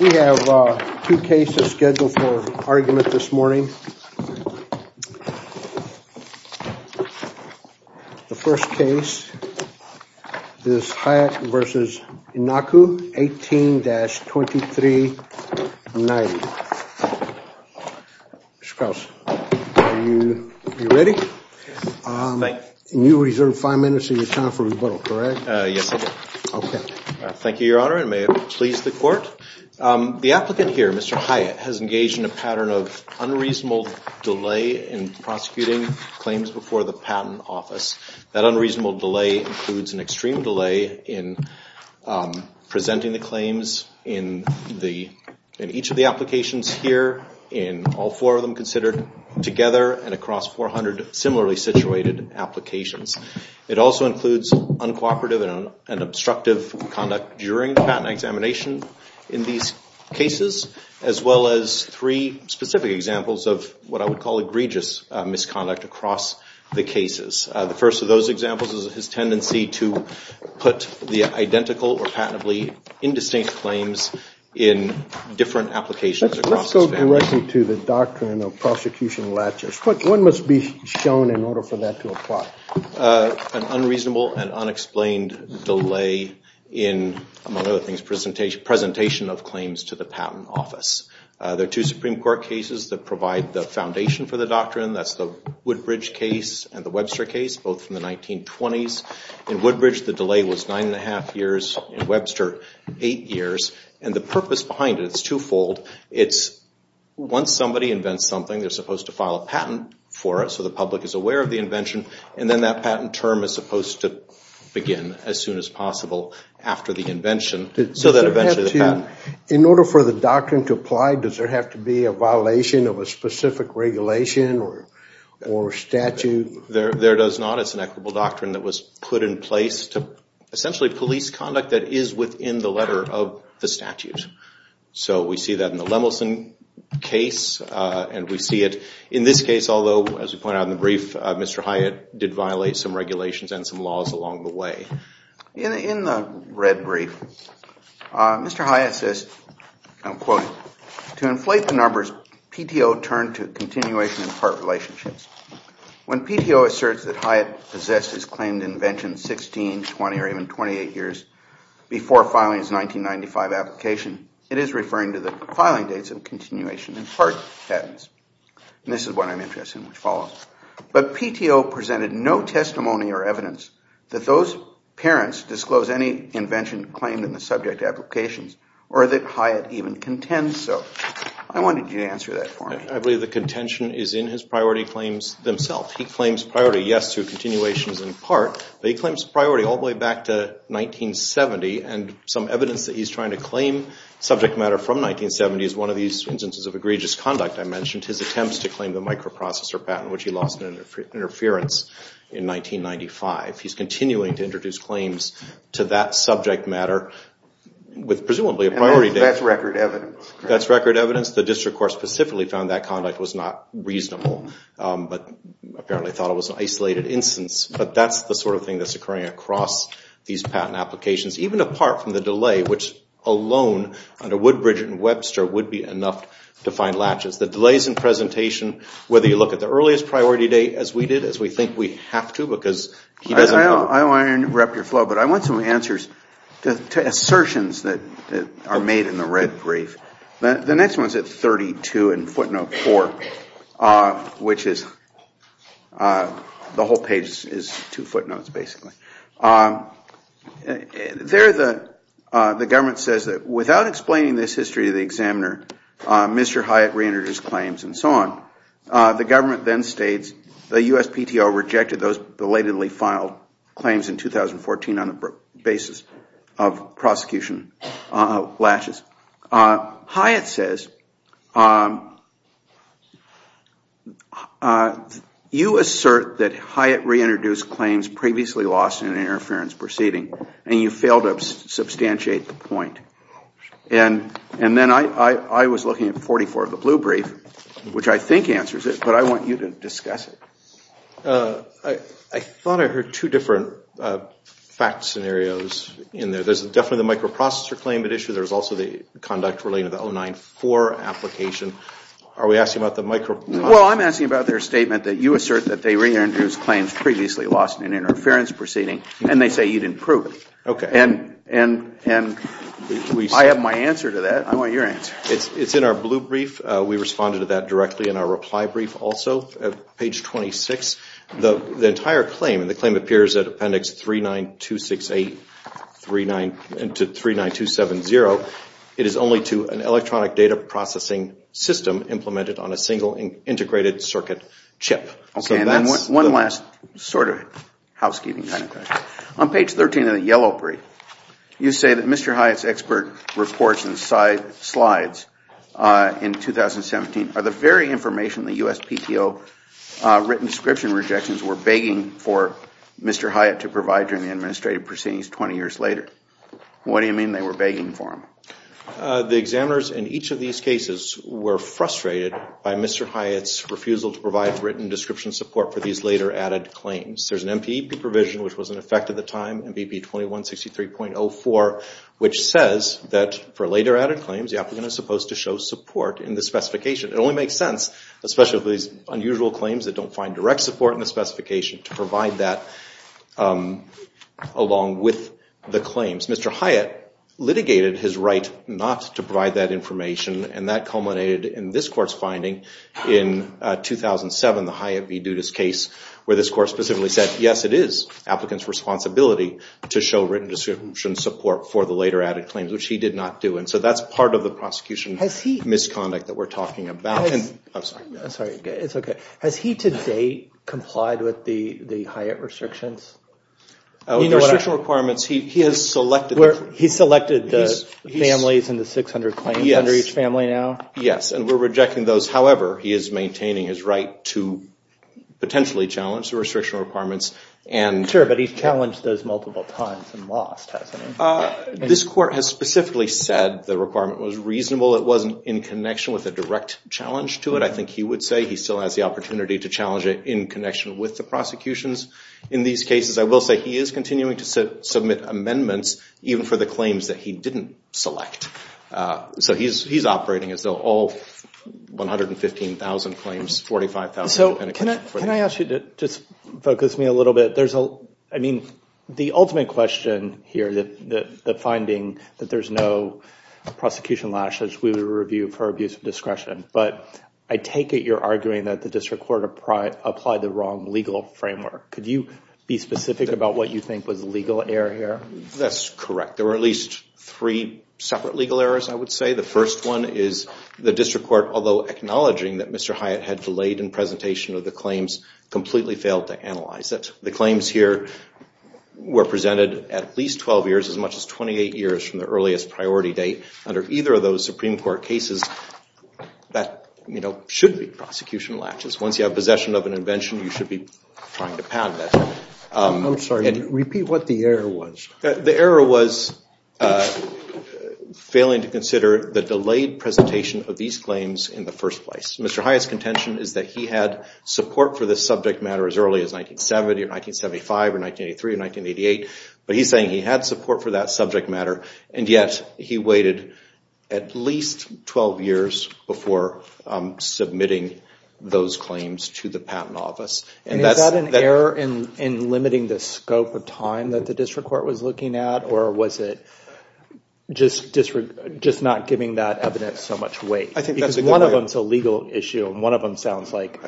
We have two cases scheduled for argument this morning. The first case is Hyatt v. Iancu, 18-2390. Mr. Krause, are you ready? You reserved five minutes of your time for rebuttal, correct? Yes, I am. Thank you, Your Honor, and may it please the Court. The applicant here, Mr. Hyatt, has engaged in a pattern of unreasonable delay in prosecuting claims before the Patent Office. That unreasonable delay includes an extreme delay in presenting the claims in each of the applications here, in all four of them considered together, and across 400 similarly situated applications. It also includes uncooperative and obstructive conduct during the patent examination in these cases, as well as three specific examples of what I would call egregious misconduct across the cases. The first of those examples is his tendency to put the identical or patently indistinct claims in different applications. Let's go directly to the doctrine of prosecution latches. What must be shown in order for that to apply? An unreasonable and unexplained delay in, among other things, presentation of claims to the Patent Office. There are two Supreme Court cases that provide the foundation for the doctrine. That's the Woodbridge case and the Webster case, both from the 1920s. In Woodbridge, the delay was nine and a half years. In Webster, eight years. The purpose behind it is twofold. It's once somebody invents something, they're supposed to file a patent for it so the public is aware of the invention. Then that patent term is supposed to begin as soon as possible after the invention so that eventually the patent… In order for the doctrine to apply, does there have to be a violation of a specific regulation or statute? There does not. It's an equitable doctrine that was put in place to essentially police conduct that is within the letter of the statute. We see that in the Lemelson case and we see it in this case, although, as we point out in the brief, Mr. Hyatt did violate some regulations and some laws along the way. In the red brief, Mr. Hyatt says, quote, to inflate the numbers, PTO turned to continuation and part relationships. When PTO asserts that Hyatt possessed his claimed invention 16, 20 or even 28 years before filing his 1995 application, it is referring to the filing dates of continuation and part patents. This is what I'm interested in, which follows. But PTO presented no testimony or evidence that those parents disclosed any invention claimed in the subject applications or that Hyatt even contends so. I wanted you to answer that for me. I believe the contention is in his priority claims themselves. He claims priority, yes, to continuations and part. But he claims priority all the way back to 1970 and some evidence that he's trying to claim subject matter from 1970 is one of these instances of egregious conduct. I mentioned his attempts to claim the microprocessor patent, which he lost in interference in 1995. He's continuing to introduce claims to that subject matter with presumably a priority date. That's record evidence? That's record evidence. The district court specifically found that conduct was not reasonable, but apparently thought it was an isolated instance. But that's the sort of thing that's occurring across these patent applications, even apart from the delay, which alone under Woodbridge and Webster would be enough to find latches. The delays in presentation, whether you look at the earliest priority date as we did, as we think we have to, because he doesn't know. I don't want to interrupt your flow, but I want some answers to assertions that are made in the red brief. The next one is at 32 in footnote 4, which is the whole page is two footnotes, basically. There the government says that without explaining this history to the examiner, Mr. Hyatt reentered his claims and so on. The government then states the USPTO rejected those belatedly filed claims in 2014 on the basis of prosecution latches. Hyatt says, you assert that Hyatt reintroduced claims previously lost in an interference proceeding, and you failed to substantiate the point. And then I was looking at 44 of the blue brief, which I think answers it, but I want you to discuss it. I thought I heard two different fact scenarios in there. There's definitely the microprocessor claim at issue. There's also the conduct relating to the 094 application. Are we asking about the microprocessor? Well, I'm asking about their statement that you assert that they reintroduced claims previously lost in an interference proceeding, and they say you didn't prove it. And I have my answer to that. I want your answer. It's in our blue brief. We responded to that directly in our reply brief also. Page 26, the entire claim, and the claim appears at appendix 39268 to 39270. It is only to an electronic data processing system implemented on a single integrated circuit chip. Okay, and then one last sort of housekeeping kind of question. On page 13 of the yellow brief, you say that Mr. Hyatt's expert reports and slides in 2017 are the very information the USPTO written description rejections were begging for Mr. Hyatt to provide during the administrative proceedings 20 years later. What do you mean they were begging for them? The examiners in each of these cases were frustrated by Mr. Hyatt's refusal to provide written description support for these later added claims. There's an MPP provision, which was in effect at the time, MPP 2163.04, which says that for later added claims, the applicant is supposed to show support in the specification. It only makes sense, especially for these unusual claims that don't find direct support in the specification, to provide that along with the claims. Mr. Hyatt litigated his right not to provide that information, and that culminated in this court's finding in 2007, the Hyatt v. Dudas case, where this court specifically said, yes, it is applicants' responsibility to show written description support for the later added claims, which he did not do. And so that's part of the prosecution misconduct that we're talking about. I'm sorry. It's okay. Has he to date complied with the Hyatt restrictions? In the restriction requirements, he has selected. He's selected the families and the 600 claims under each family now? Yes, and we're rejecting those. However, he is maintaining his right to potentially challenge the restriction requirements. Sure, but he's challenged those multiple times and lost, hasn't he? This court has specifically said the requirement was reasonable. It wasn't in connection with a direct challenge to it. I think he would say he still has the opportunity to challenge it in connection with the prosecutions. In these cases, I will say he is continuing to submit amendments, even for the claims that he didn't select. So he's operating as though all 115,000 claims, 45,000. So can I ask you to just focus me a little bit? I mean, the ultimate question here, the finding that there's no prosecution lashes, we would review for abuse of discretion. But I take it you're arguing that the district court applied the wrong legal framework. Could you be specific about what you think was legal error here? That's correct. There were at least three separate legal errors, I would say. The first one is the district court, although acknowledging that Mr. Hyatt had delayed in presentation of the claims, completely failed to analyze it. The claims here were presented at least 12 years, as much as 28 years from the earliest priority date. Under either of those Supreme Court cases, that should be prosecution latches. Once you have possession of an invention, you should be trying to pound that. I'm sorry. Repeat what the error was. The error was failing to consider the delayed presentation of these claims in the first place. Mr. Hyatt's contention is that he had support for this subject matter as early as 1970 or 1975 or 1983 or 1988. But he's saying he had support for that subject matter, and yet he waited at least 12 years before submitting those claims to the patent office. Is that an error in limiting the scope of time that the district court was looking at? Or was it just not giving that evidence so much weight? I think that's a good point. Because one of them is a legal issue, and one of them sounds like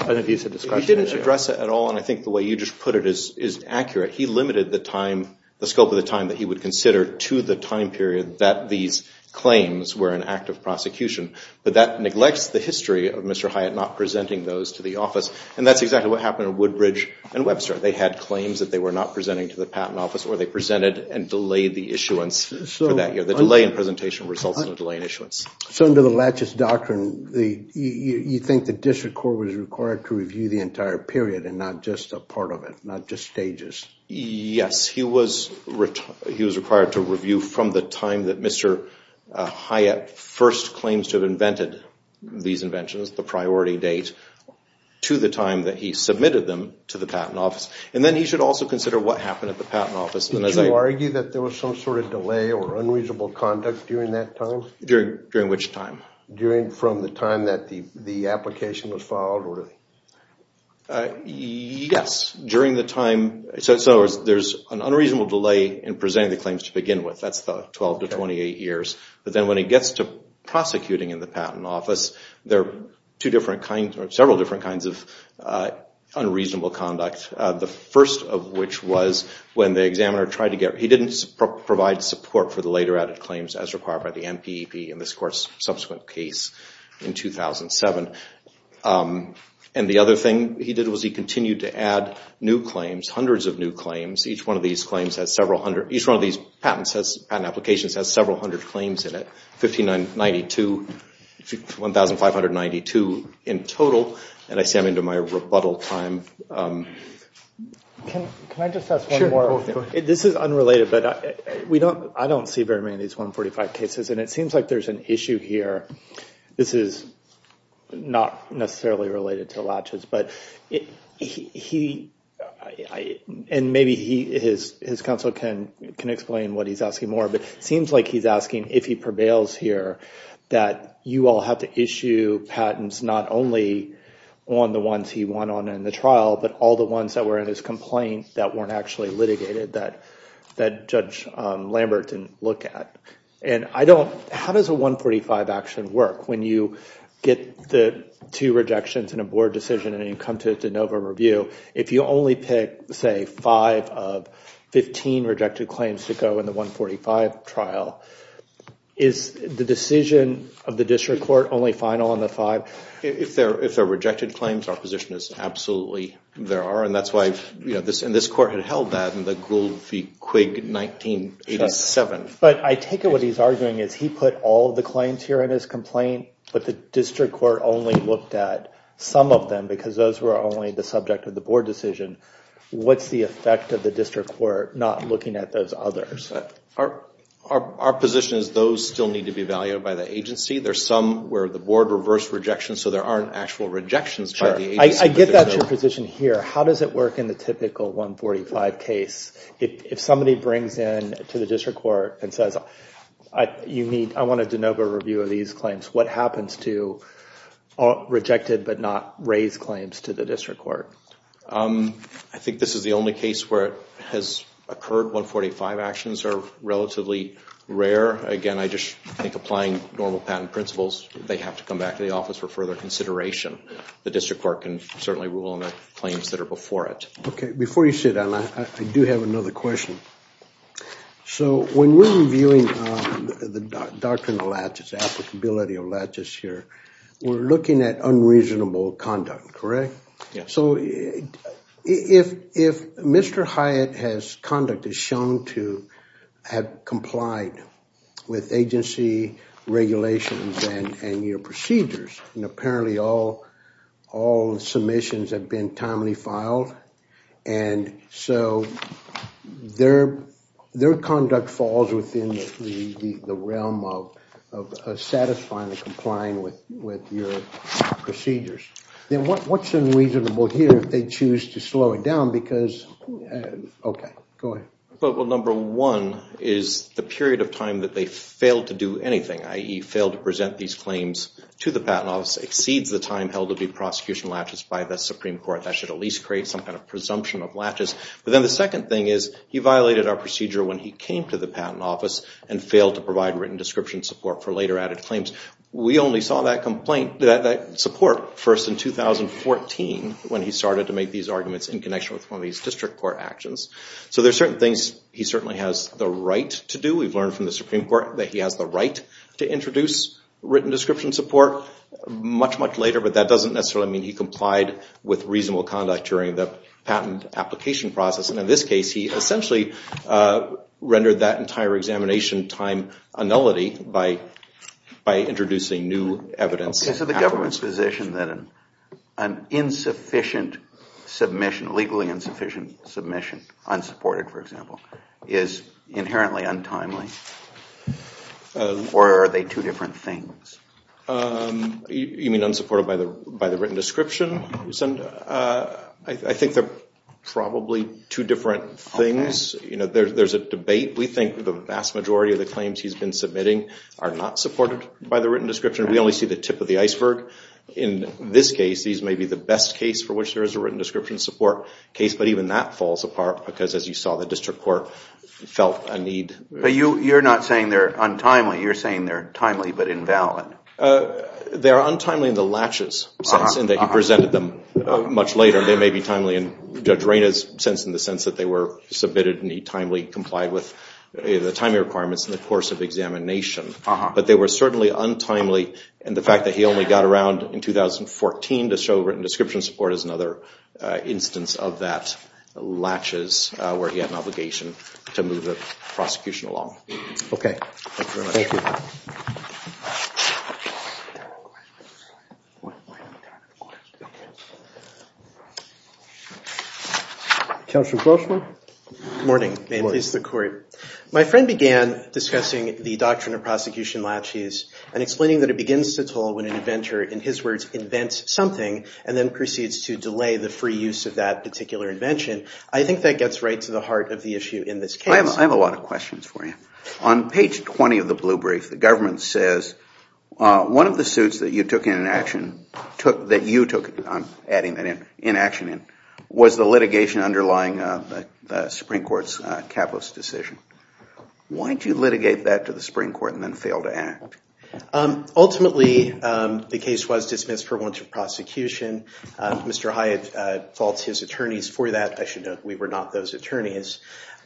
an abusive discretionary error. He didn't address it at all, and I think the way you just put it is accurate. He limited the scope of the time that he would consider to the time period that these claims were an act of prosecution. But that neglects the history of Mr. Hyatt not presenting those to the office. And that's exactly what happened at Woodbridge and Webster. They had claims that they were not presenting to the patent office, or they presented and delayed the issuance for that year. The delay in presentation results in a delay in issuance. So under the Latches Doctrine, you think the district court was required to review the entire period and not just a part of it, not just stages? Yes, he was required to review from the time that Mr. Hyatt first claims to have invented these inventions, the priority date, to the time that he submitted them to the patent office. And then he should also consider what happened at the patent office. Did you argue that there was some sort of delay or unreasonable conduct during that time? During which time? From the time that the application was filed? Yes. So there's an unreasonable delay in presenting the claims to begin with. That's the 12 to 28 years. But then when it gets to prosecuting in the patent office, there are several different kinds of unreasonable conduct. The first of which was when the examiner tried to get... He didn't provide support for the later added claims as required by the NPEP in this court's subsequent case in 2007. And the other thing he did was he continued to add new claims, hundreds of new claims. Each one of these patent applications has several hundred claims in it, 1,592 in total. And I see I'm into my rebuttal time. Can I just ask one more? Sure, go ahead. This is unrelated, but I don't see very many of these 145 cases, and it seems like there's an issue here. This is not necessarily related to latches, but he... And maybe his counsel can explain what he's asking more, but it seems like he's asking if he prevails here, that you all have to issue patents not only on the ones he won on in the trial, but all the ones that were in his complaint that weren't actually litigated, that Judge Lambert didn't look at. And I don't... How does a 145 action work? When you get the two rejections in a board decision and you come to a de novo review, if you only pick, say, five of 15 rejected claims to go in the 145 trial, is the decision of the district court only final on the five? If they're rejected claims, our position is absolutely there are, and that's why... And this court had held that in the Gould v. Quigg, 1987. But I take it what he's arguing is he put all the claims here in his complaint, but the district court only looked at some of them because those were only the subject of the board decision. What's the effect of the district court not looking at those others? Our position is those still need to be evaluated by the agency. There's some where the board reversed rejection, so there aren't actual rejections by the agency. Sure. I get that's your position here. How does it work in the typical 145 case? If somebody brings in to the district court and says, I want a de novo review of these claims, what happens to rejected but not raised claims to the district court? I think this is the only case where it has occurred. 145 actions are relatively rare. Again, I just think applying normal patent principles, they have to come back to the office for further consideration. The district court can certainly rule on the claims that are before it. Okay. Before you sit down, I do have another question. So when we're reviewing the doctrine of latches, applicability of latches here, we're looking at unreasonable conduct, correct? Yeah. So if Mr. Hyatt's conduct is shown to have complied with agency regulations and your procedures, and apparently all submissions have been timely filed, and so their conduct falls within the realm of satisfying and complying with your procedures, then what's unreasonable here if they choose to slow it down? Because, okay, go ahead. Well, number one is the period of time that they failed to do anything, i.e., failed to present these claims to the patent office, exceeds the time held to be prosecution latches by the Supreme Court. That should at least create some kind of presumption of latches. But then the second thing is he violated our procedure when he came to the patent office and failed to provide written description support for later added claims. We only saw that support first in 2014 when he started to make these arguments in connection with one of these district court actions. So there are certain things he certainly has the right to do. We've learned from the Supreme Court that he has the right to introduce written description support much, much later, but that doesn't necessarily mean he complied with reasonable conduct during the patent application process. And in this case, he essentially rendered that entire examination time a nullity by introducing new evidence. Okay, so the government's position that an insufficient submission, legally insufficient submission, unsupported, for example, is inherently untimely? Or are they two different things? You mean unsupported by the written description? I think they're probably two different things. There's a debate. We think the vast majority of the claims he's been submitting are not supported We only see the tip of the iceberg. In this case, these may be the best case for which there is a written description support case, but even that falls apart because, as you saw, the district court felt a need. But you're not saying they're untimely. You're saying they're timely but invalid. They are untimely in the latches sense, in that he presented them much later. They may be timely in Judge Reyna's sense, in the sense that they were submitted and he timely complied with the timing requirements in the course of examination. But they were certainly untimely, and the fact that he only got around in 2014 to show written description support is another instance of that latches, where he had an obligation to move the prosecution along. Okay. Thank you. Counselor Grossman? Good morning. May I please have the query? My friend began discussing the doctrine of prosecution latches and explaining that it begins to toll when an inventor, in his words, invents something and then proceeds to delay the free use of that particular invention. I think that gets right to the heart of the issue in this case. I have a lot of questions for you. On page 20 of the blue brief, the government says, one of the suits that you took in action, that you took, I'm adding that in, was the litigation underlying the Supreme Court's capitalist decision. Why did you litigate that to the Supreme Court and then fail to act? Ultimately, the case was dismissed for want of prosecution. Mr. Hyatt faults his attorneys for that. I should note, we were not those attorneys.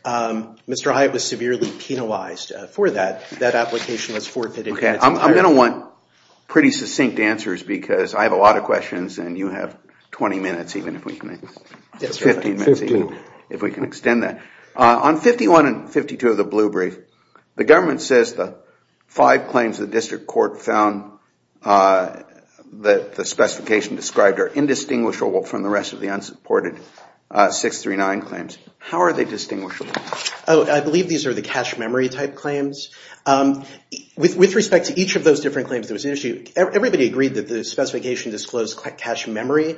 Mr. Hyatt was severely penalized for that. That application was forfeited. I'm going to want pretty succinct answers because I have a lot of questions and you have 20 minutes, 15 minutes even, if we can extend that. On 51 and 52 of the blue brief, the government says the five claims the district court found that the specification described are indistinguishable from the rest of the unsupported 639 claims. How are they distinguishable? I believe these are the cache memory type claims. With respect to each of those different claims, everybody agreed that the specification disclosed cache memory.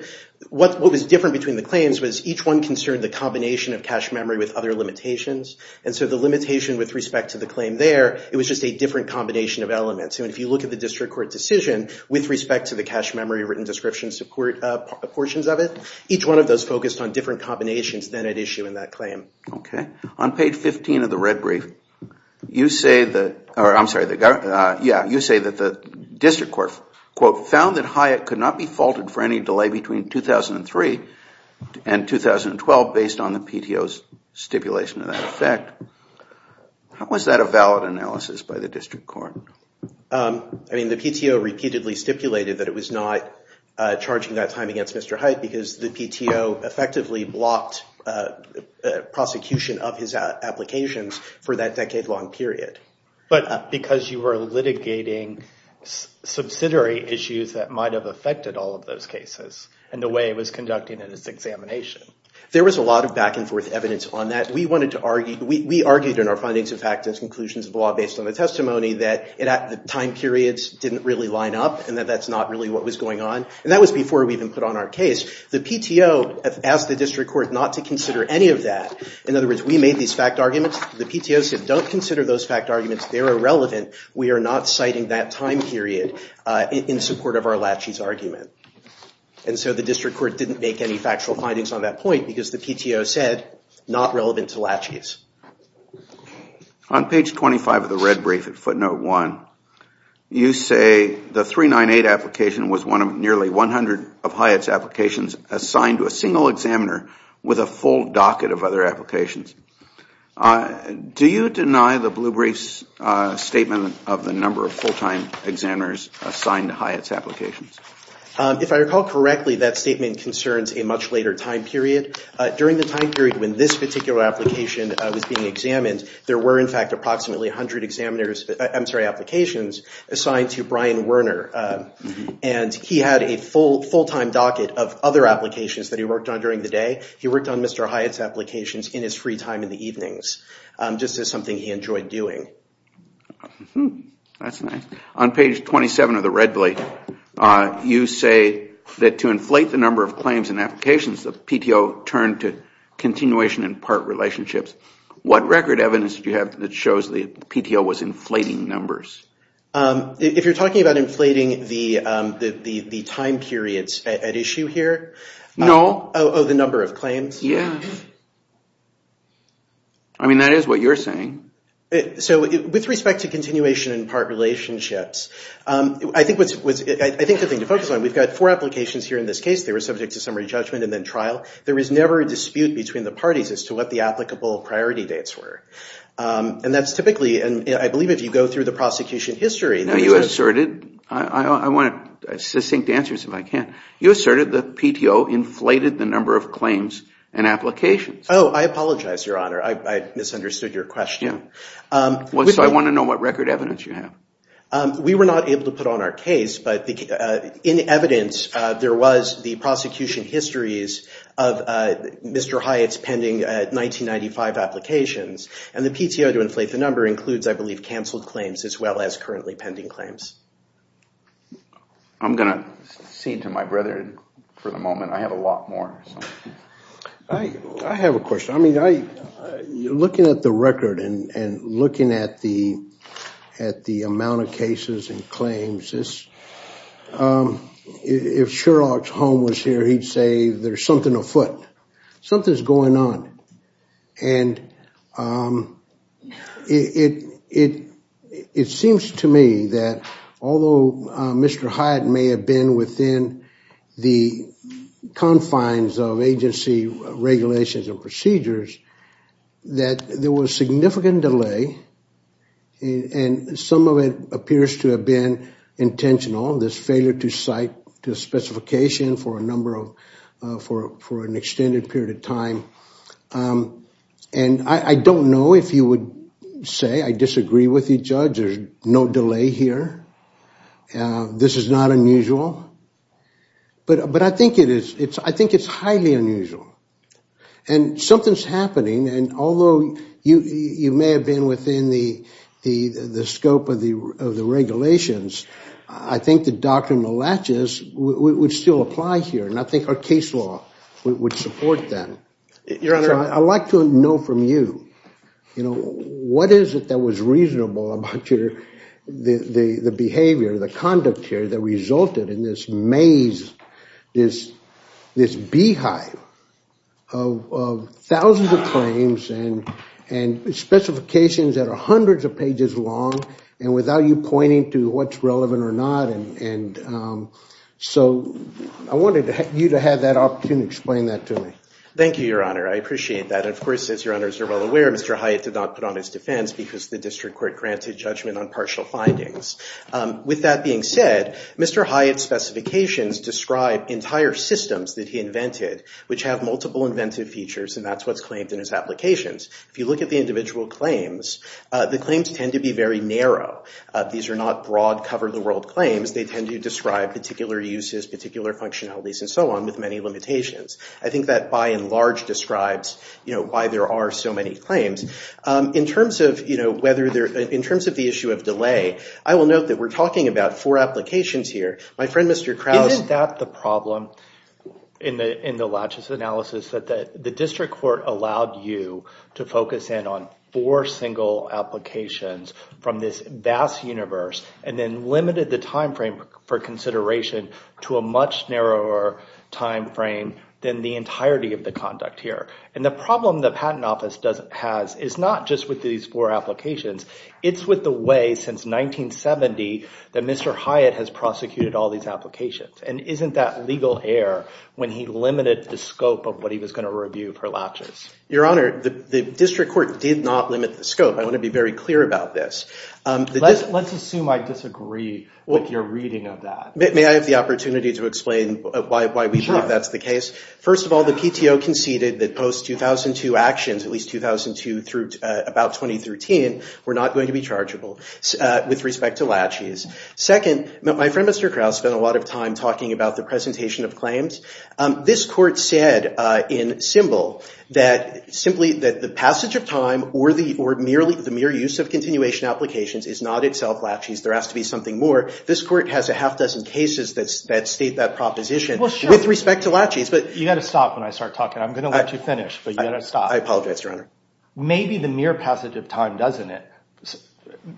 What was different between the claims was each one concerned the combination of cache memory with other limitations. The limitation with respect to the claim there, it was just a different combination of elements. If you look at the district court decision with respect to the cache memory written description support portions of it, each one of those focused on different combinations than at issue in that claim. On page 15 of the red brief, you say that the district court found that Hyatt could not be faulted for any delay between 2003 and 2012 based on the PTO's stipulation of that effect. How was that a valid analysis by the district court? The PTO repeatedly stipulated that it was not charging that time against Mr. Hyatt because the PTO effectively blocked prosecution of his applications for that decade-long period. But because you were litigating subsidiary issues that might have affected all of those cases and the way it was conducting its examination. There was a lot of back and forth evidence on that. We argued in our findings of fact and conclusions of law based on the testimony that the time periods didn't really line up and that that's not really what was going on. That was before we even put on our case. The PTO asked the district court not to consider any of that. In other words, we made these fact arguments. The PTO said, don't consider those fact arguments. They're irrelevant. We are not citing that time period in support of our laches argument. And so the district court didn't make any factual findings on that point because the PTO said, not relevant to laches. On page 25 of the red brief at footnote 1, you say the 398 application was one of nearly 100 of Hyatt's applications assigned to a single examiner with a full docket of other applications. Do you deny the blue brief's statement of the number of full-time examiners assigned to Hyatt's applications? If I recall correctly, that statement concerns a much later time period. During the time period when this particular application was being examined, there were in fact approximately 100 applications assigned to Brian Werner. And he had a full-time docket of other applications that he worked on during the day. He worked on Mr. Hyatt's applications in his free time in the evenings, just as something he enjoyed doing. That's nice. On page 27 of the red brief, you say that to inflate the number of claims and applications, the PTO turned to continuation in part relationships. What record evidence do you have that shows the PTO was inflating numbers? If you're talking about inflating the time periods at issue here? No. Oh, the number of claims? Yeah. I mean, that is what you're saying. So with respect to continuation in part relationships, I think the thing to focus on, we've got four applications here in this case. They were subject to summary judgment and then trial. There was never a dispute between the parties as to what the applicable priority dates were. And that's typically, and I believe if you go through the prosecution history. Now you asserted, I want succinct answers if I can. You asserted the PTO inflated the number of claims and applications. Oh, I apologize, Your Honor. I misunderstood your question. So I want to know what record evidence you have. We were not able to put on our case, but in evidence there was the prosecution histories of Mr. Hyatt's pending 1995 applications. And the PTO to inflate the number includes, I believe, canceled claims as well as currently pending claims. I'm going to cede to my brother for the moment. I have a lot more. I have a question. I mean, looking at the record and looking at the amount of cases and claims, if Sherlock's home was here, he'd say there's something afoot. Something's going on. And it seems to me that although Mr. Hyatt may have been within the confines of agency regulations and procedures, that there was significant delay, and some of it appears to have been intentional, this failure to cite the specification for an extended period of time. And I don't know if you would say I disagree with you, Judge. There's no delay here. This is not unusual. But I think it's highly unusual. And something's happening, and although you may have been within the scope of the regulations, I think the doctrinal latches would still apply here, and I think our case law would support that. Your Honor. I'd like to know from you, you know, what is it that was reasonable about the behavior, the conduct here that resulted in this maze, this beehive of thousands of claims and specifications that are hundreds of pages long, and without you pointing to what's relevant or not. And so I wanted you to have that opportunity to explain that to me. Thank you, Your Honor. I appreciate that. And, of course, as Your Honors are well aware, Mr. Hyatt did not put on his defense because the district court granted judgment on partial findings. With that being said, Mr. Hyatt's specifications describe entire systems that he invented, which have multiple inventive features, and that's what's claimed in his applications. If you look at the individual claims, the claims tend to be very narrow. These are not broad, cover-the-world claims. They tend to describe particular uses, particular functionalities, and so on, with many limitations. I think that by and large describes why there are so many claims. In terms of the issue of delay, I will note that we're talking about four applications here. Isn't that the problem in the Latchis analysis, that the district court allowed you to focus in on four single applications from this vast universe and then limited the time frame for consideration to a much narrower time frame than the entirety of the conduct here? And the problem the Patent Office has is not just with these four applications. It's with the way, since 1970, that Mr. Hyatt has prosecuted all these applications. And isn't that legal error when he limited the scope of what he was going to review for Latchis? Your Honor, the district court did not limit the scope. I want to be very clear about this. Let's assume I disagree with your reading of that. May I have the opportunity to explain why we believe that's the case? Sure. First of all, the PTO conceded that post-2002 actions, at least 2002 through about 2013, were not going to be chargeable with respect to Latchis. Second, my friend, Mr. Krause, spent a lot of time talking about the presentation of claims. This court said in Symbol that simply that the passage of time or the mere use of continuation applications is not itself Latchis. There has to be something more. This court has a half dozen cases that state that proposition with respect to Latchis. You've got to stop when I start talking. I'm going to let you finish, but you've got to stop. I apologize, Your Honor. Maybe the mere passage of time doesn't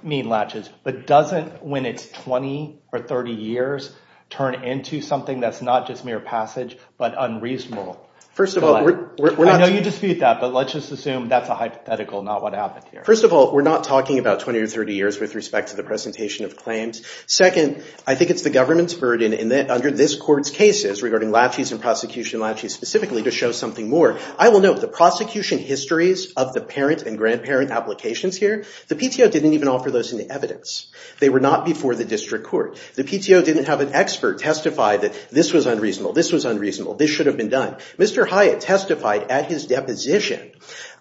mean Latchis, but doesn't when it's 20 or 30 years turn into something that's not just mere passage but unreasonable? First of all, we're not— I know you dispute that, but let's just assume that's a hypothetical, not what happened here. First of all, we're not talking about 20 or 30 years with respect to the presentation of claims. Second, I think it's the government's burden under this court's cases regarding Latchis and prosecution of Latchis specifically to show something more. I will note the prosecution histories of the parent and grandparent applications here, the PTO didn't even offer those in the evidence. They were not before the district court. The PTO didn't have an expert testify that this was unreasonable, this was unreasonable, this should have been done. Mr. Hyatt testified at his deposition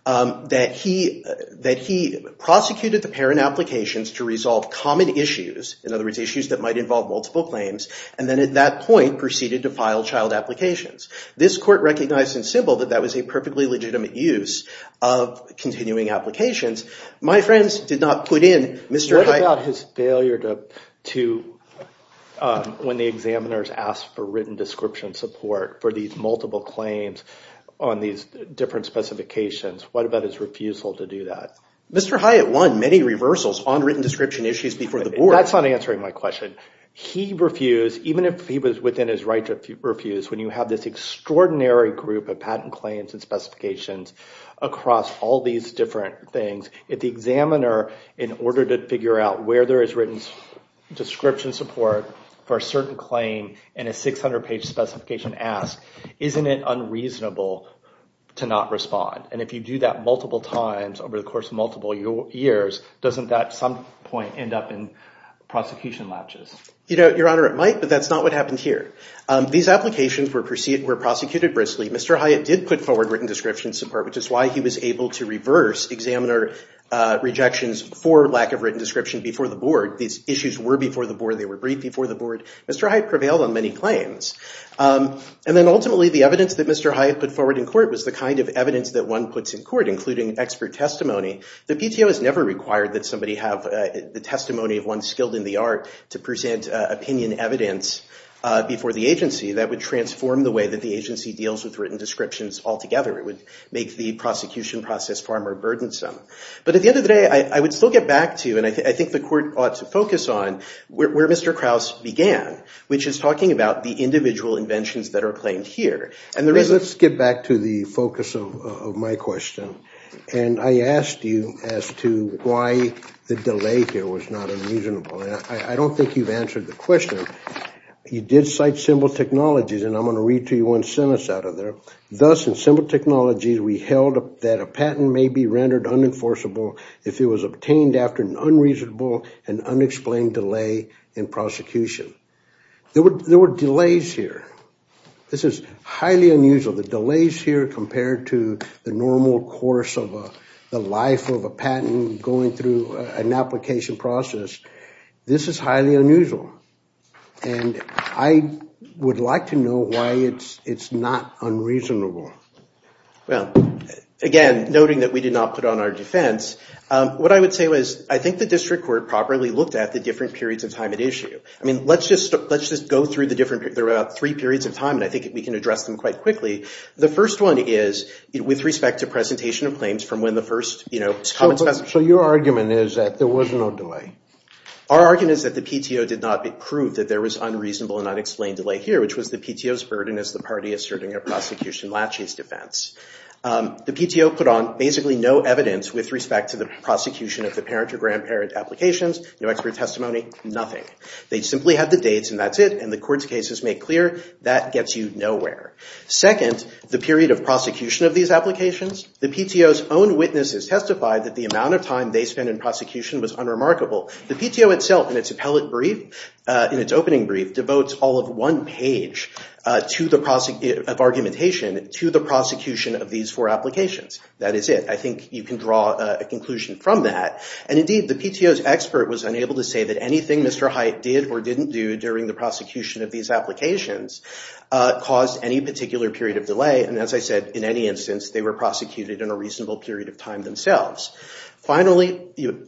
that he prosecuted the parent applications to resolve common issues, in other words, issues that might involve multiple claims, and then at that point proceeded to file child applications. This court recognized in Sybil that that was a perfectly legitimate use of continuing applications. My friends did not put in Mr. Hyatt— What about his failure to—when the examiners asked for written description support for these multiple claims on these different specifications, what about his refusal to do that? Mr. Hyatt won many reversals on written description issues before the board. That's not answering my question. He refused, even if he was within his right to refuse, when you have this extraordinary group of patent claims and specifications across all these different things, if the examiner, in order to figure out where there is written description support for a certain claim in a 600-page specification, asks, isn't it unreasonable to not respond? And if you do that multiple times over the course of multiple years, doesn't that at some point end up in prosecution latches? Your Honor, it might, but that's not what happened here. These applications were prosecuted briskly. Mr. Hyatt did put forward written description support, which is why he was able to reverse examiner rejections for lack of written description before the board. These issues were before the board. They were briefed before the board. Mr. Hyatt prevailed on many claims. And then ultimately, the evidence that Mr. Hyatt put forward in court was the kind of evidence that one puts in court, including expert testimony. The PTO has never required that somebody have the testimony of one skilled in the art to present opinion evidence before the agency. That would transform the way that the agency deals with written descriptions altogether. It would make the prosecution process far more burdensome. But at the end of the day, I would still get back to, and I think the court ought to focus on, where Mr. Krause began, which is talking about the individual inventions that are claimed here. Let's get back to the focus of my question. And I asked you as to why the delay here was not unreasonable. I don't think you've answered the question. You did cite simple technologies, and I'm going to read to you one sentence out of there. Thus, in simple technologies, we held that a patent may be rendered unenforceable if it was obtained after an unreasonable and unexplained delay in prosecution. There were delays here. This is highly unusual. The delays here compared to the normal course of the life of a patent going through an application process, this is highly unusual. And I would like to know why it's not unreasonable. Well, again, noting that we did not put on our defense, what I would say was I think the district court properly looked at the different periods of time at issue. I mean, let's just go through the three periods of time, and I think we can address them quite quickly. The first one is with respect to presentation of claims from when the first comments were made. So your argument is that there was no delay? Our argument is that the PTO did not prove that there was unreasonable and unexplained delay here, which was the PTO's burden as the party asserting a prosecution laches defense. The PTO put on basically no evidence with respect to the prosecution of the parent or grandparent applications, no expert testimony, nothing. They simply had the dates, and that's it. And the court's cases make clear that gets you nowhere. Second, the period of prosecution of these applications. The PTO's own witnesses testified that the amount of time they spent in prosecution was unremarkable. The PTO itself in its appellate brief, in its opening brief, devotes all of one page of argumentation to the prosecution of these four applications. That is it. I think you can draw a conclusion from that. And indeed, the PTO's expert was unable to say that anything Mr. Hite did or didn't do during the prosecution of these applications caused any particular period of delay. And as I said, in any instance, they were prosecuted in a reasonable period of time themselves. Finally, you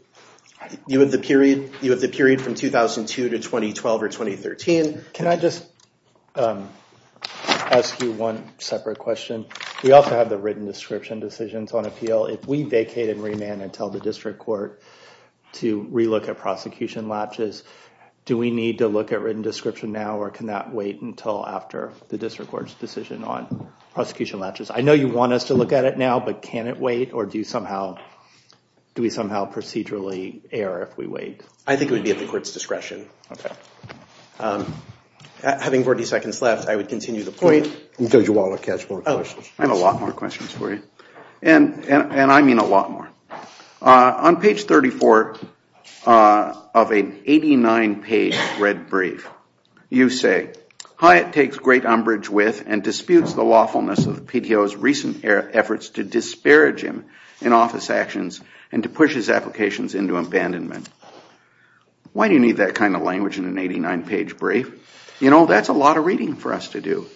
have the period from 2002 to 2012 or 2013. Can I just ask you one separate question? We also have the written description decisions on appeal. If we vacate and remand until the district court to relook at prosecution latches, do we need to look at written description now, or can that wait until after the district court's decision on prosecution latches? I know you want us to look at it now, but can it wait, or do we somehow procedurally err if we wait? I think it would be at the court's discretion. Having 40 seconds left, I would continue the point. I have a lot more questions for you, and I mean a lot more. On page 34 of an 89-page red brief, you say, Hite takes great umbrage with and disputes the lawfulness of the PTO's recent efforts to disparage him in office actions and to push his applications into abandonment. Why do you need that kind of language in an 89-page brief? You know, that's a lot of reading for us to do.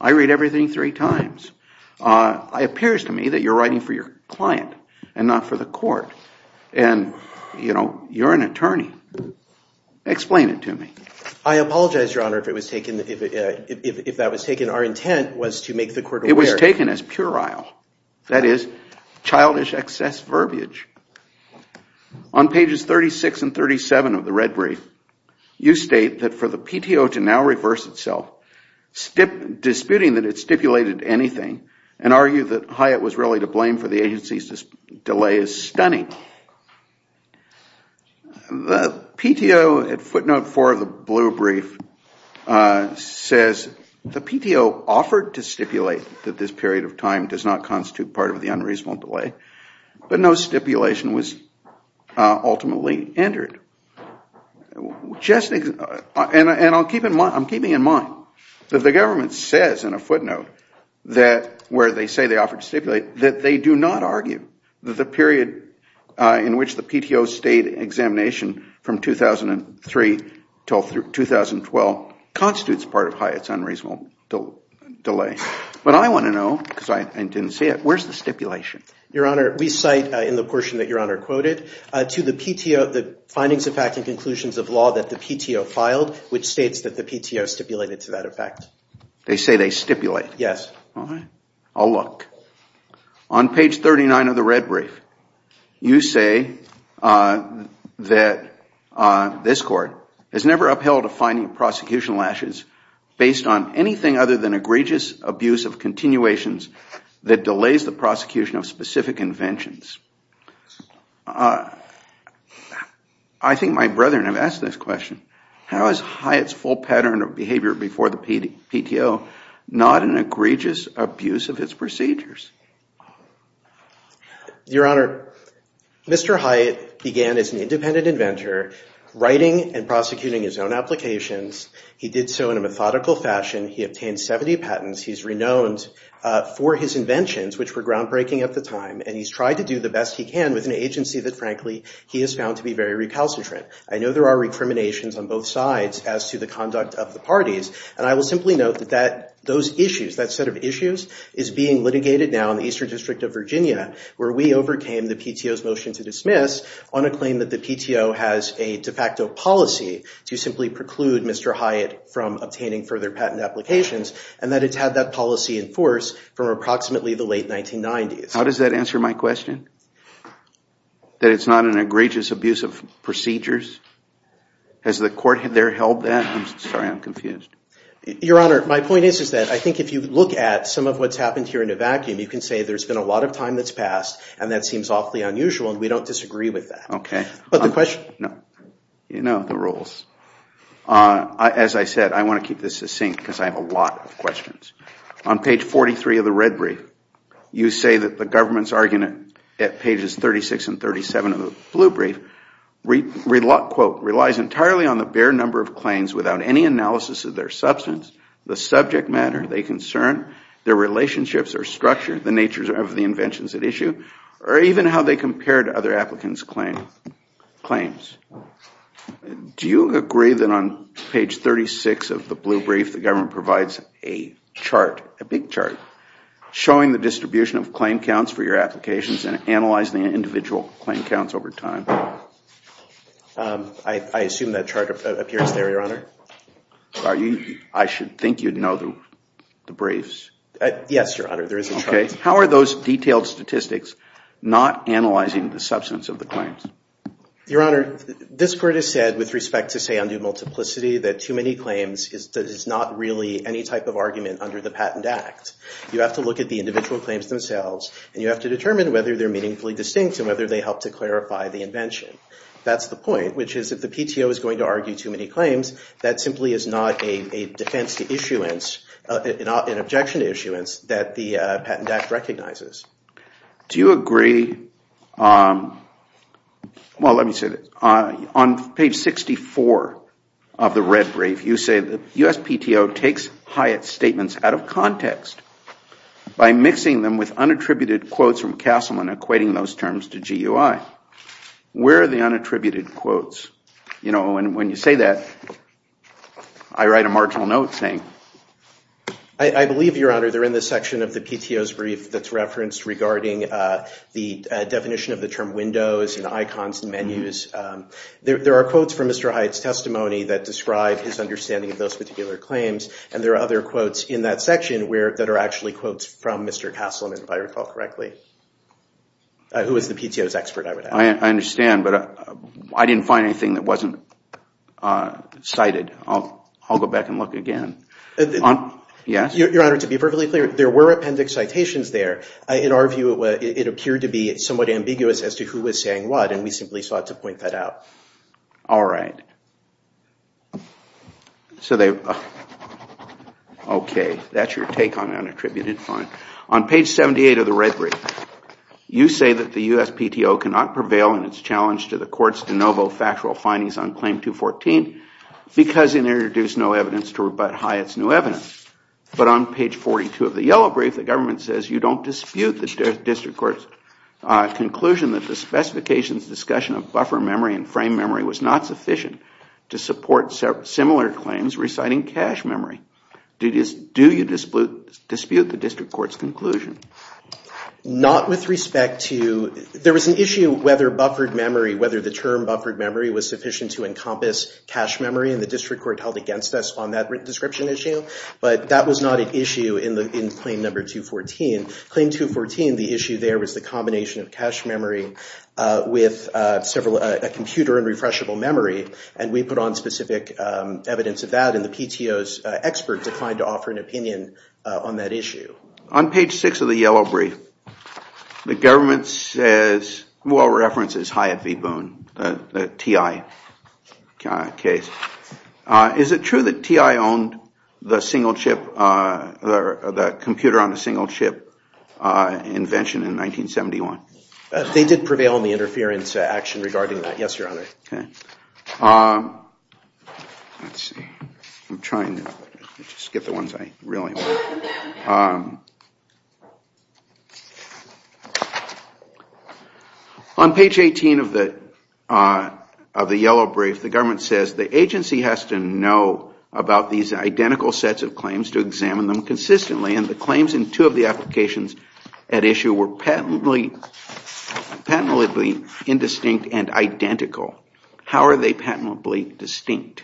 I read everything three times. It appears to me that you're writing for your client and not for the court, and, you know, you're an attorney. Explain it to me. I apologize, Your Honor, if that was taken. Our intent was to make the court aware. It was taken as puerile, that is, childish excess verbiage. On pages 36 and 37 of the red brief, you state that for the PTO to now reverse itself, disputing that it stipulated anything, and argue that Hite was really to blame for the agency's delay is stunning. The PTO at footnote 4 of the blue brief says, The PTO offered to stipulate that this period of time does not constitute part of the unreasonable delay, but no stipulation was ultimately entered. And I'm keeping in mind that the government says in a footnote where they say they offered to stipulate that they do not argue that the period in which the PTO stayed in examination from 2003 until 2012 constitutes part of Hite's unreasonable delay. But I want to know, because I didn't see it, where's the stipulation? Your Honor, we cite in the portion that Your Honor quoted to the PTO, the findings of fact and conclusions of law that the PTO filed, which states that the PTO stipulated to that effect. They say they stipulate. Yes. All right. I'll look. On page 39 of the red brief, you say that this court has never upheld a finding of prosecution lashes based on anything other than egregious abuse of continuations that delays the prosecution of specific inventions. I think my brethren have asked this question. How is Hite's full pattern of behavior before the PTO not an egregious abuse of its procedures? Your Honor, Mr. Hite began as an independent inventor, writing and prosecuting his own applications. He did so in a methodical fashion. He obtained 70 patents. He's renowned for his inventions, which were groundbreaking at the time. And he's tried to do the best he can with an agency that, frankly, he has found to be very recalcitrant. I know there are recriminations on both sides as to the conduct of the parties. And I will simply note that those issues, that set of issues, is being litigated now in the Eastern District of Virginia, where we overcame the PTO's motion to dismiss on a claim that the PTO has a de facto policy to simply preclude Mr. Hite from obtaining further patent applications, and that it's had that policy in force from approximately the late 1990s. How does that answer my question? That it's not an egregious abuse of procedures? Has the court there held that? I'm sorry. I'm confused. Your Honor, my point is that I think if you look at some of what's happened here in a vacuum, you can say there's been a lot of time that's passed, and that seems awfully unusual, and we don't disagree with that. Okay. But the question— No. You know the rules. As I said, I want to keep this succinct because I have a lot of questions. On page 43 of the red brief, you say that the government's argument at pages 36 and 37 of the blue brief, quote, relies entirely on the bare number of claims without any analysis of their substance, the subject matter they concern, their relationships or structure, the nature of the inventions at issue, or even how they compare to other applicants' claims. Do you agree that on page 36 of the blue brief the government provides a chart, a big chart, showing the distribution of claim counts for your applications and analyzing the individual claim counts over time? I assume that chart appears there, Your Honor. I should think you'd know the briefs. Yes, Your Honor. There is a chart. Okay. How are those detailed statistics not analyzing the substance of the claims? Your Honor, this Court has said, with respect to, say, undue multiplicity, that too many claims is not really any type of argument under the Patent Act. You have to look at the individual claims themselves, and you have to determine whether they're meaningfully distinct and whether they help to clarify the invention. That's the point, which is if the PTO is going to argue too many claims, that simply is not an objection to issuance that the Patent Act recognizes. Do you agree? Well, let me say this. On page 64 of the red brief, you say, the U.S. PTO takes Hyatt's statements out of context by mixing them with unattributed quotes from Castleman equating those terms to GUI. Where are the unattributed quotes? You know, when you say that, I write a marginal note saying. I believe, Your Honor, they're in the section of the PTO's brief that's referenced regarding the definition of the term windows and icons and menus. There are quotes from Mr. Hyatt's testimony that describe his understanding of those particular claims, and there are other quotes in that section that are actually quotes from Mr. Castleman, if I recall correctly, who is the PTO's expert, I would add. I understand, but I didn't find anything that wasn't cited. I'll go back and look again. Your Honor, to be perfectly clear, there were appendix citations there. In our view, it appeared to be somewhat ambiguous as to who was saying what, and we simply sought to point that out. All right. Okay, that's your take on unattributed. On page 78 of the red brief, you say that the U.S. PTO cannot prevail in its challenge to the court's de novo factual findings on Claim 214 because it introduced no evidence to rebut Hyatt's new evidence. But on page 42 of the yellow brief, the government says you don't dispute the district court's conclusion that the specifications discussion of buffer memory and frame memory was not sufficient to support similar claims reciting cache memory. Do you dispute the district court's conclusion? Not with respect to... There was an issue whether buffered memory, whether the term buffered memory was sufficient to encompass cache memory, and the district court held against us on that description issue. But that was not an issue in Claim 214. Claim 214, the issue there was the combination of cache memory with a computer and refreshable memory, and we put on specific evidence of that, and the PTO's expert declined to offer an opinion on that issue. On page 6 of the yellow brief, the government says, well, references Hyatt v. Boone, the TI case. Is it true that TI owned the computer on a single chip invention in 1971? They did prevail on the interference action regarding that, yes, Your Honor. On page 18 of the yellow brief, the government says the agency has to know about these identical sets of claims to examine them consistently, and the claims in two of the applications at issue were patently indistinct and identical. How are they patently distinct?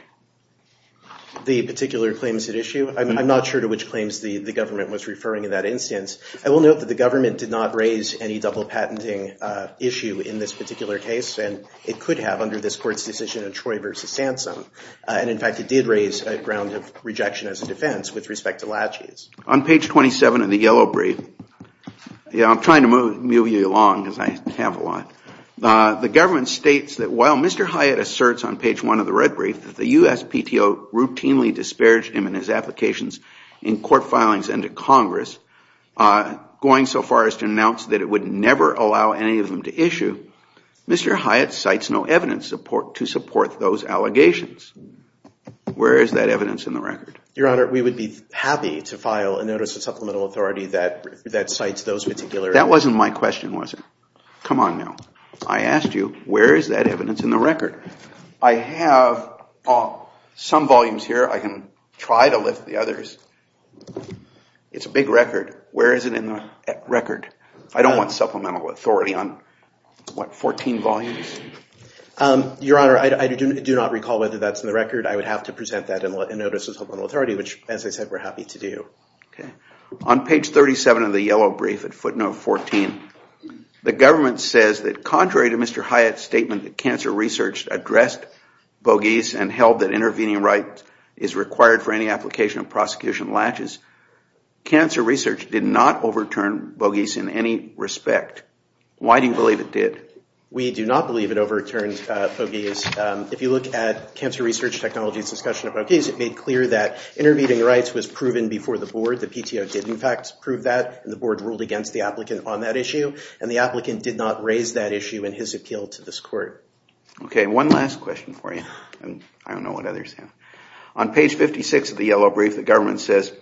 The particular claims at issue? I'm not sure to which claims the government was referring in that instance. I will note that the government did not raise any double patenting issue in this particular case, and it could have under this Court's decision in Troy v. Sansom, and in fact it did raise a ground of rejection as a defense with respect to Lachey's. On page 27 of the yellow brief, I'm trying to move you along because I have a lot. The government states that while Mr. Hyatt asserts on page 1 of the red brief that the US PTO routinely disparaged him and his applications in court filings and to Congress, going so far as to announce that it would never allow any of them to issue, Mr. Hyatt cites no evidence to support those allegations. Where is that evidence in the record? Your Honor, we would be happy to file a notice of supplemental authority that cites those particular... That wasn't my question, was it? Come on now. I asked you where is that evidence in the record? I have some volumes here. I can try to lift the others. It's a big record. Where is it in the record? I don't want supplemental authority on 14 volumes. Your Honor, I do not recall whether that's in the record. I would have to present that in a notice of supplemental authority, which as I said, we're happy to do. On page 37 of the yellow brief at footnote 14, the government says that contrary to Mr. Hyatt's statement that cancer research addressed Bogies and held that intervening right is required for any application of prosecution latches, cancer research did not overturn Bogies in any respect. Why do you believe it did? We do not believe it overturned Bogies. If you look at cancer research technology's discussion of Bogies, it made clear that intervening rights was proven before the board. The PTO did in fact prove that, and the board ruled against the applicant on that issue, and the applicant did not raise that issue in his appeal to this court. Okay, one last question for you. I don't know what others have. On page 56 of the yellow brief, the government says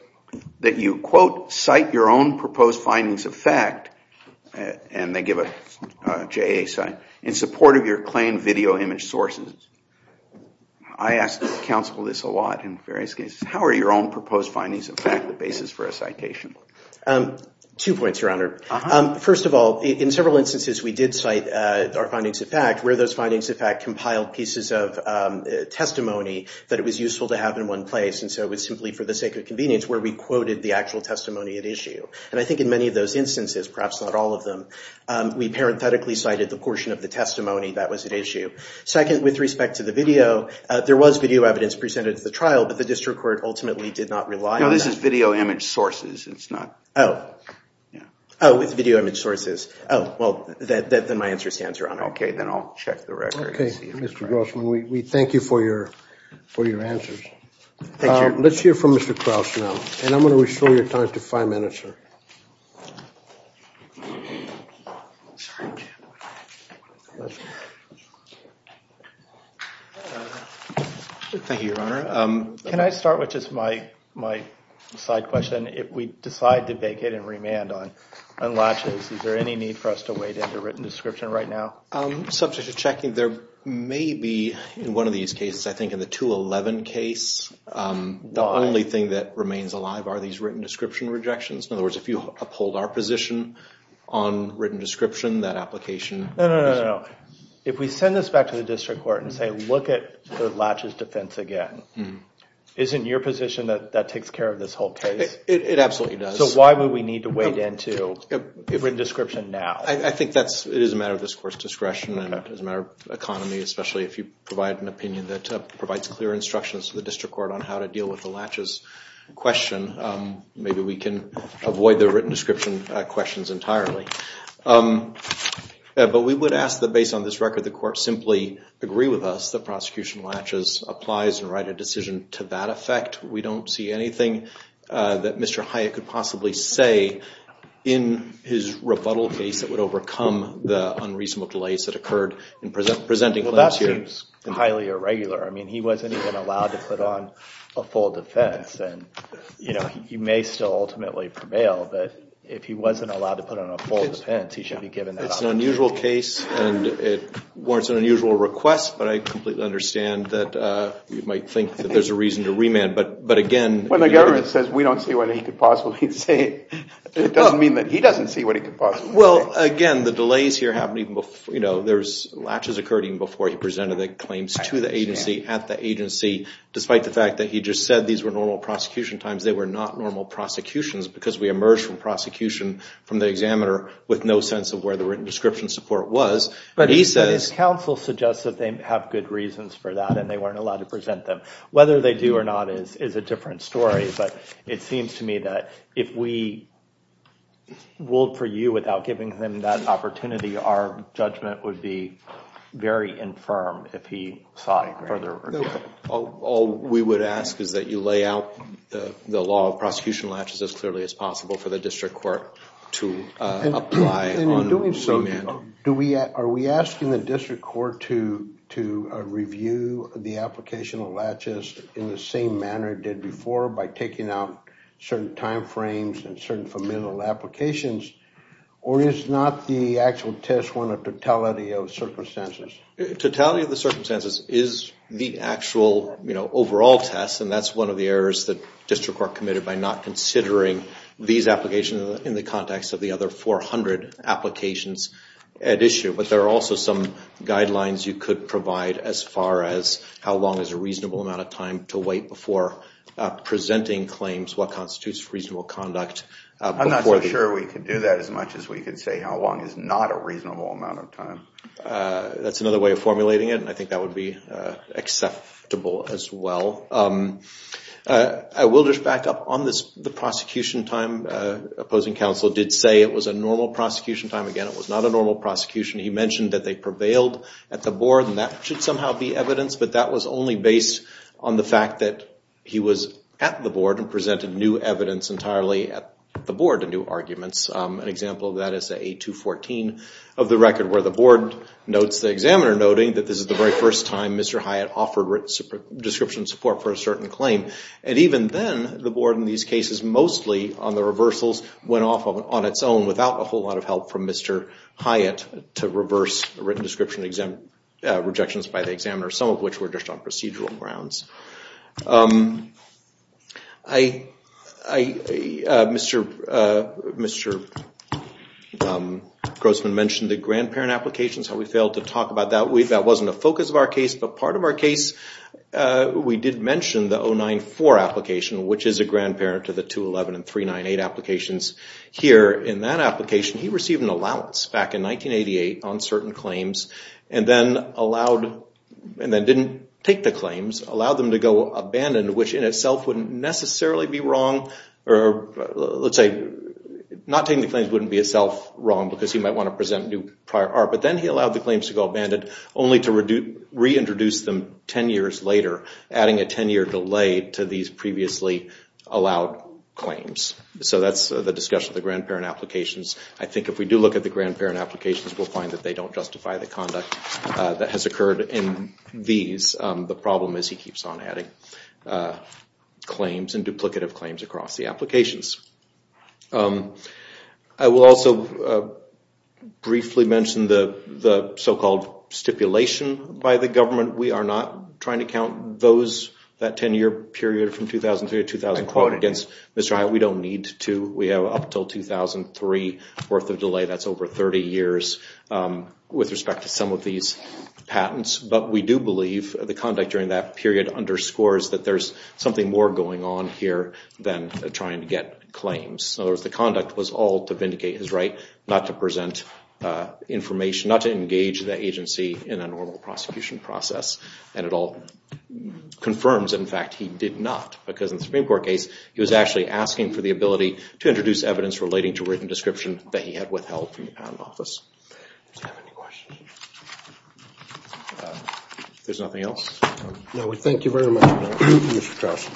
that you, quote, cite your own proposed findings of fact, and they give a JA sign, in support of your claimed video image sources. I ask counsel this a lot in various cases. How are your own proposed findings of fact the basis for a citation? Two points, Your Honor. First of all, in several instances we did cite our findings of fact, where those findings of fact compiled pieces of testimony that it was useful to have in one place, and so it was simply for the sake of convenience where we quoted the actual testimony at issue. And I think in many of those instances, perhaps not all of them, we parenthetically cited the portion of the testimony that was at issue. Second, with respect to the video, there was video evidence presented at the trial, but the district court ultimately did not rely on that. No, this is video image sources. It's not... Oh. Yeah. Oh, it's video image sources. Okay, then I'll check the record and see if it's right. Mr. Grossman, we thank you for your answers. Thank you. Let's hear from Mr. Krauss now, and I'm going to restore your time to five minutes, sir. Thank you, Your Honor. Can I start with just my side question? If we decide to vacate and remand on latches, is there any need for us to wait in the written description right now? Subject to checking, there may be, in one of these cases, I think in the 211 case, the only thing that remains alive are these written description rejections. In other words, if you uphold our position on written description, that application... No, no, no, no, no. If we send this back to the district court and say, look at the latches defense again, isn't your position that that takes care of this whole case? It absolutely does. So why would we need to wait into written description now? I think it is a matter of this court's discretion, and it is a matter of economy, especially if you provide an opinion that provides clear instructions to the district court on how to deal with the latches question. Maybe we can avoid the written description questions entirely. But we would ask that based on this record, the court simply agree with us that prosecution latches applies and write a decision to that effect. We don't see anything that Mr. Hyatt could possibly say in his rebuttal case that would overcome the unreasonable delays that occurred in presenting claims here. Well, that seems highly irregular. I mean, he wasn't even allowed to put on a full defense, and he may still ultimately prevail, but if he wasn't allowed to put on a full defense, he should be given that opportunity. It's an unusual case, and it warrants an unusual request, but I completely understand that you might think that there's a reason to remand, but again... When the government says we don't see what he could possibly say, it doesn't mean that he doesn't see what he could possibly say. Well, again, the delays here happened even before, you know, there's latches occurred even before he presented the claims to the agency, at the agency, despite the fact that he just said these were normal prosecution times. They were not normal prosecutions because we emerged from prosecution from the examiner with no sense of where the written description support was. But his counsel suggests that they have good reasons for that, and they weren't allowed to present them. Whether they do or not is a different story, but it seems to me that if we ruled for you without giving him that opportunity, our judgment would be very infirm if he sought further... All we would ask is that you lay out the law of prosecution latches as clearly as possible for the district court to apply on remand. And in doing so, are we asking the district court to review the application of latches in the same manner it did before by taking out certain time frames and certain familial applications, or is not the actual test one a totality of circumstances? Totality of the circumstances is the actual, you know, overall test, and that's one of the errors that district court committed by not considering these applications in the context of the other 400 applications at issue. But there are also some guidelines you could provide as far as how long is a reasonable amount of time to wait before presenting claims, what constitutes reasonable conduct. I'm not so sure we could do that as much as we could say how long is not a reasonable amount of time. That's another way of formulating it, and I think that would be acceptable as well. I will just back up. On the prosecution time, opposing counsel did say it was a normal prosecution time. Again, it was not a normal prosecution. He mentioned that they prevailed at the board, and that should somehow be evidence, but that was only based on the fact that he was at the board and presented new evidence entirely at the board and new arguments. An example of that is A214 of the record where the board notes the examiner, noting that this is the very first time Mr. Hyatt offered written description support for a certain claim. And even then, the board in these cases, mostly on the reversals, went off on its own without a whole lot of help from Mr. Hyatt to reverse written description rejections by the examiner, some of which were just on procedural grounds. Mr. Grossman mentioned the grandparent applications. We failed to talk about that. That wasn't a focus of our case, but part of our case we did mention the 094 application, which is a grandparent to the 211 and 398 applications. Here in that application, he received an allowance back in 1988 on certain claims and then didn't take the claims, allowed them to go abandoned, which in itself wouldn't necessarily be wrong, or let's say not taking the claims wouldn't be itself wrong because he might want to present new prior art. But then he allowed the claims to go abandoned only to reintroduce them 10 years later, adding a 10-year delay to these previously allowed claims. So that's the discussion of the grandparent applications. I think if we do look at the grandparent applications, we'll find that they don't justify the conduct that has occurred in these. The problem is he keeps on adding claims and duplicative claims across the applications. I will also briefly mention the so-called stipulation by the government. We are not trying to count those, that 10-year period from 2003 to 2004, against Mr. Hyatt. We don't need to. We have up until 2003 worth of delay. That's over 30 years with respect to some of these patents. But we do believe the conduct during that period underscores that there's something more going on here than trying to get claims. In other words, the conduct was all to vindicate his right not to present information, not to engage the agency in a normal prosecution process. And it all confirms, in fact, he did not. Because in the Supreme Court case, he was actually asking for the ability to introduce evidence relating to written description that he had withheld from the patent office. Do you have any questions? If there's nothing else. No, we thank you very much, Your Honor. Mr. Krause.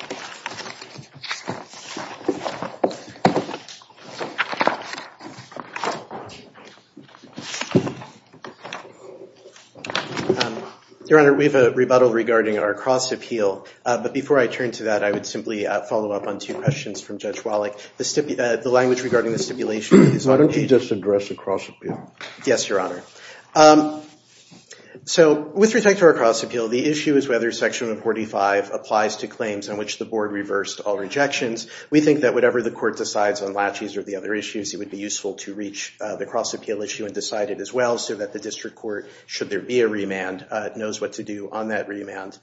Your Honor, we have a rebuttal regarding our cross-appeal. But before I turn to that, I would simply follow up on two questions from Judge Wallach. The language regarding the stipulation is... Why don't you just address the cross-appeal? Yes, Your Honor. So, with respect to our cross-appeal, the issue is whether Section 145 applies to claims on which the board reversed all rejections. We think that whatever the court decides on laches or the other issues, it would be useful to reach the cross-appeal issue and decide it as well, so that the district court, should there be a remand, knows what to do on that remand.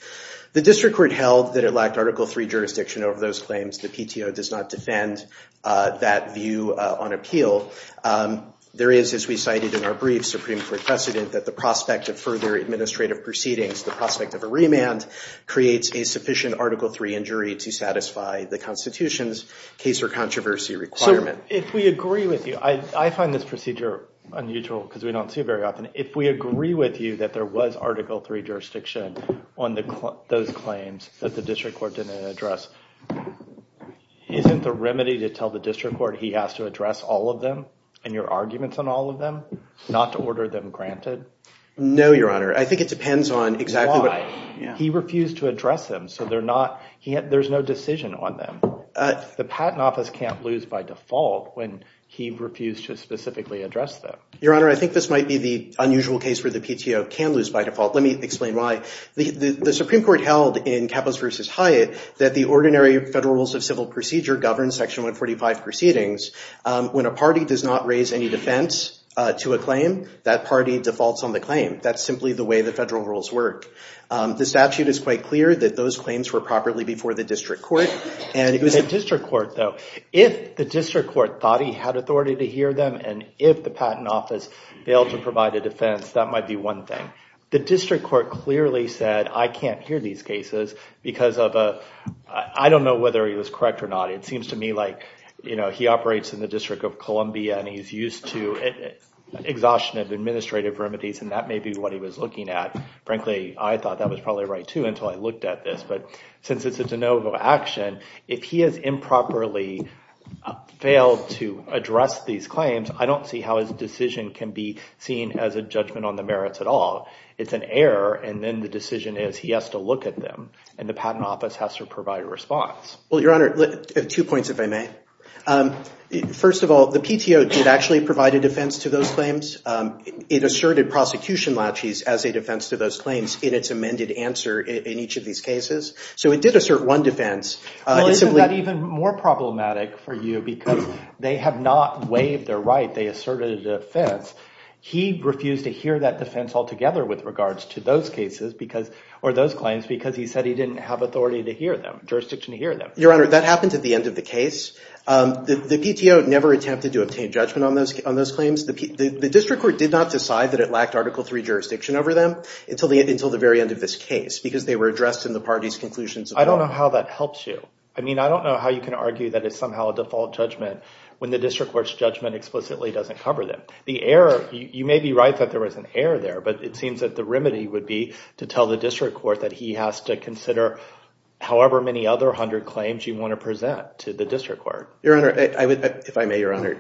The district court held that it lacked Article III jurisdiction over those claims. The PTO does not defend that view on appeal. There is, as we cited in our brief, Supreme Court precedent, that the prospect of further administrative proceedings, the prospect of a remand, creates a sufficient Article III injury to satisfy the Constitution's case or controversy requirement. So, if we agree with you... I find this procedure unusual, because we don't see it very often. If we agree with you that there was Article III jurisdiction on those claims that the district court didn't address, isn't the remedy to tell the district court he has to address all of them, and your arguments on all of them, not to order them granted? No, Your Honor. I think it depends on exactly what... Why? He refused to address them, so there's no decision on them. The Patent Office can't lose by default when he refused to specifically address them. Your Honor, I think this might be the unusual case Let me explain why. The Supreme Court held in Kappos v. Hyatt that the ordinary Federal Rules of Civil Procedure govern Section 145 proceedings. When a party does not raise any defense to a claim, that party defaults on the claim. That's simply the way the Federal Rules work. The statute is quite clear that those claims were properly before the district court. The district court, though. If the district court thought he had authority to hear them, and if the Patent Office failed to provide a defense, that might be one thing. The district court clearly said, I can't hear these cases because of a... I don't know whether he was correct or not. It seems to me like he operates in the District of Columbia and he's used to exhaustion of administrative remedies, and that may be what he was looking at. Frankly, I thought that was probably right, too, until I looked at this. But since it's a de novo action, if he has improperly failed to address these claims, I don't see how his decision can be seen as a judgment on the merits at all. It's an error, and then the decision is he has to look at them, and the Patent Office has to provide a response. Well, Your Honor, two points, if I may. First of all, the PTO did actually provide a defense to those claims. It asserted prosecution laches as a defense to those claims in its amended answer in each of these cases. So it did assert one defense. Well, isn't that even more problematic for you because they have not waived their right. They asserted a defense. He refused to hear that defense altogether with regards to those cases or those claims because he said he didn't have jurisdiction to hear them. Your Honor, that happened at the end of the case. The PTO never attempted to obtain judgment on those claims. The district court did not decide that it lacked Article III jurisdiction over them until the very end of this case because they were addressed in the party's conclusions. I don't know how that helps you. I mean, I don't know how you can argue that it's somehow a default judgment when the district court's judgment explicitly doesn't cover them. The error, you may be right that there was an error there, but it seems that the remedy would be to tell the district court that he has to consider however many other 100 claims you want to present to the district court. Your Honor, if I may, Your Honor,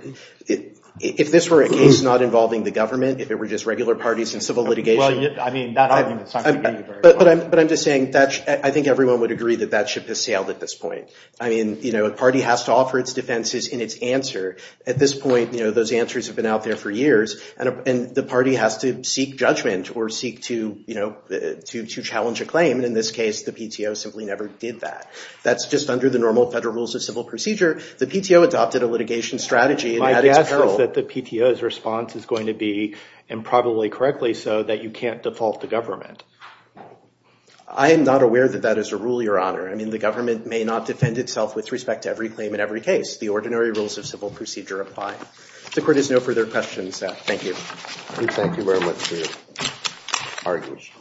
if this were a case not involving the government, if it were just regular parties and civil litigation. Well, I mean, that argument is not going to get you very far. But I'm just saying that I think everyone would agree that that ship has sailed at this point. I mean, a party has to offer its defenses in its answer. At this point, you know, those answers have been out there for years. And the party has to seek judgment or seek to challenge a claim. And in this case, the PTO simply never did that. That's just under the normal federal rules of civil procedure. The PTO adopted a litigation strategy. My guess is that the PTO's response is going to be, and probably correctly so, that you can't default the government. I am not aware that that is a rule, Your Honor. I mean, the government may not defend itself with respect to every claim in every case. The ordinary rules of civil procedure apply. If the court has no further questions, thank you. We thank you very much for your arguments.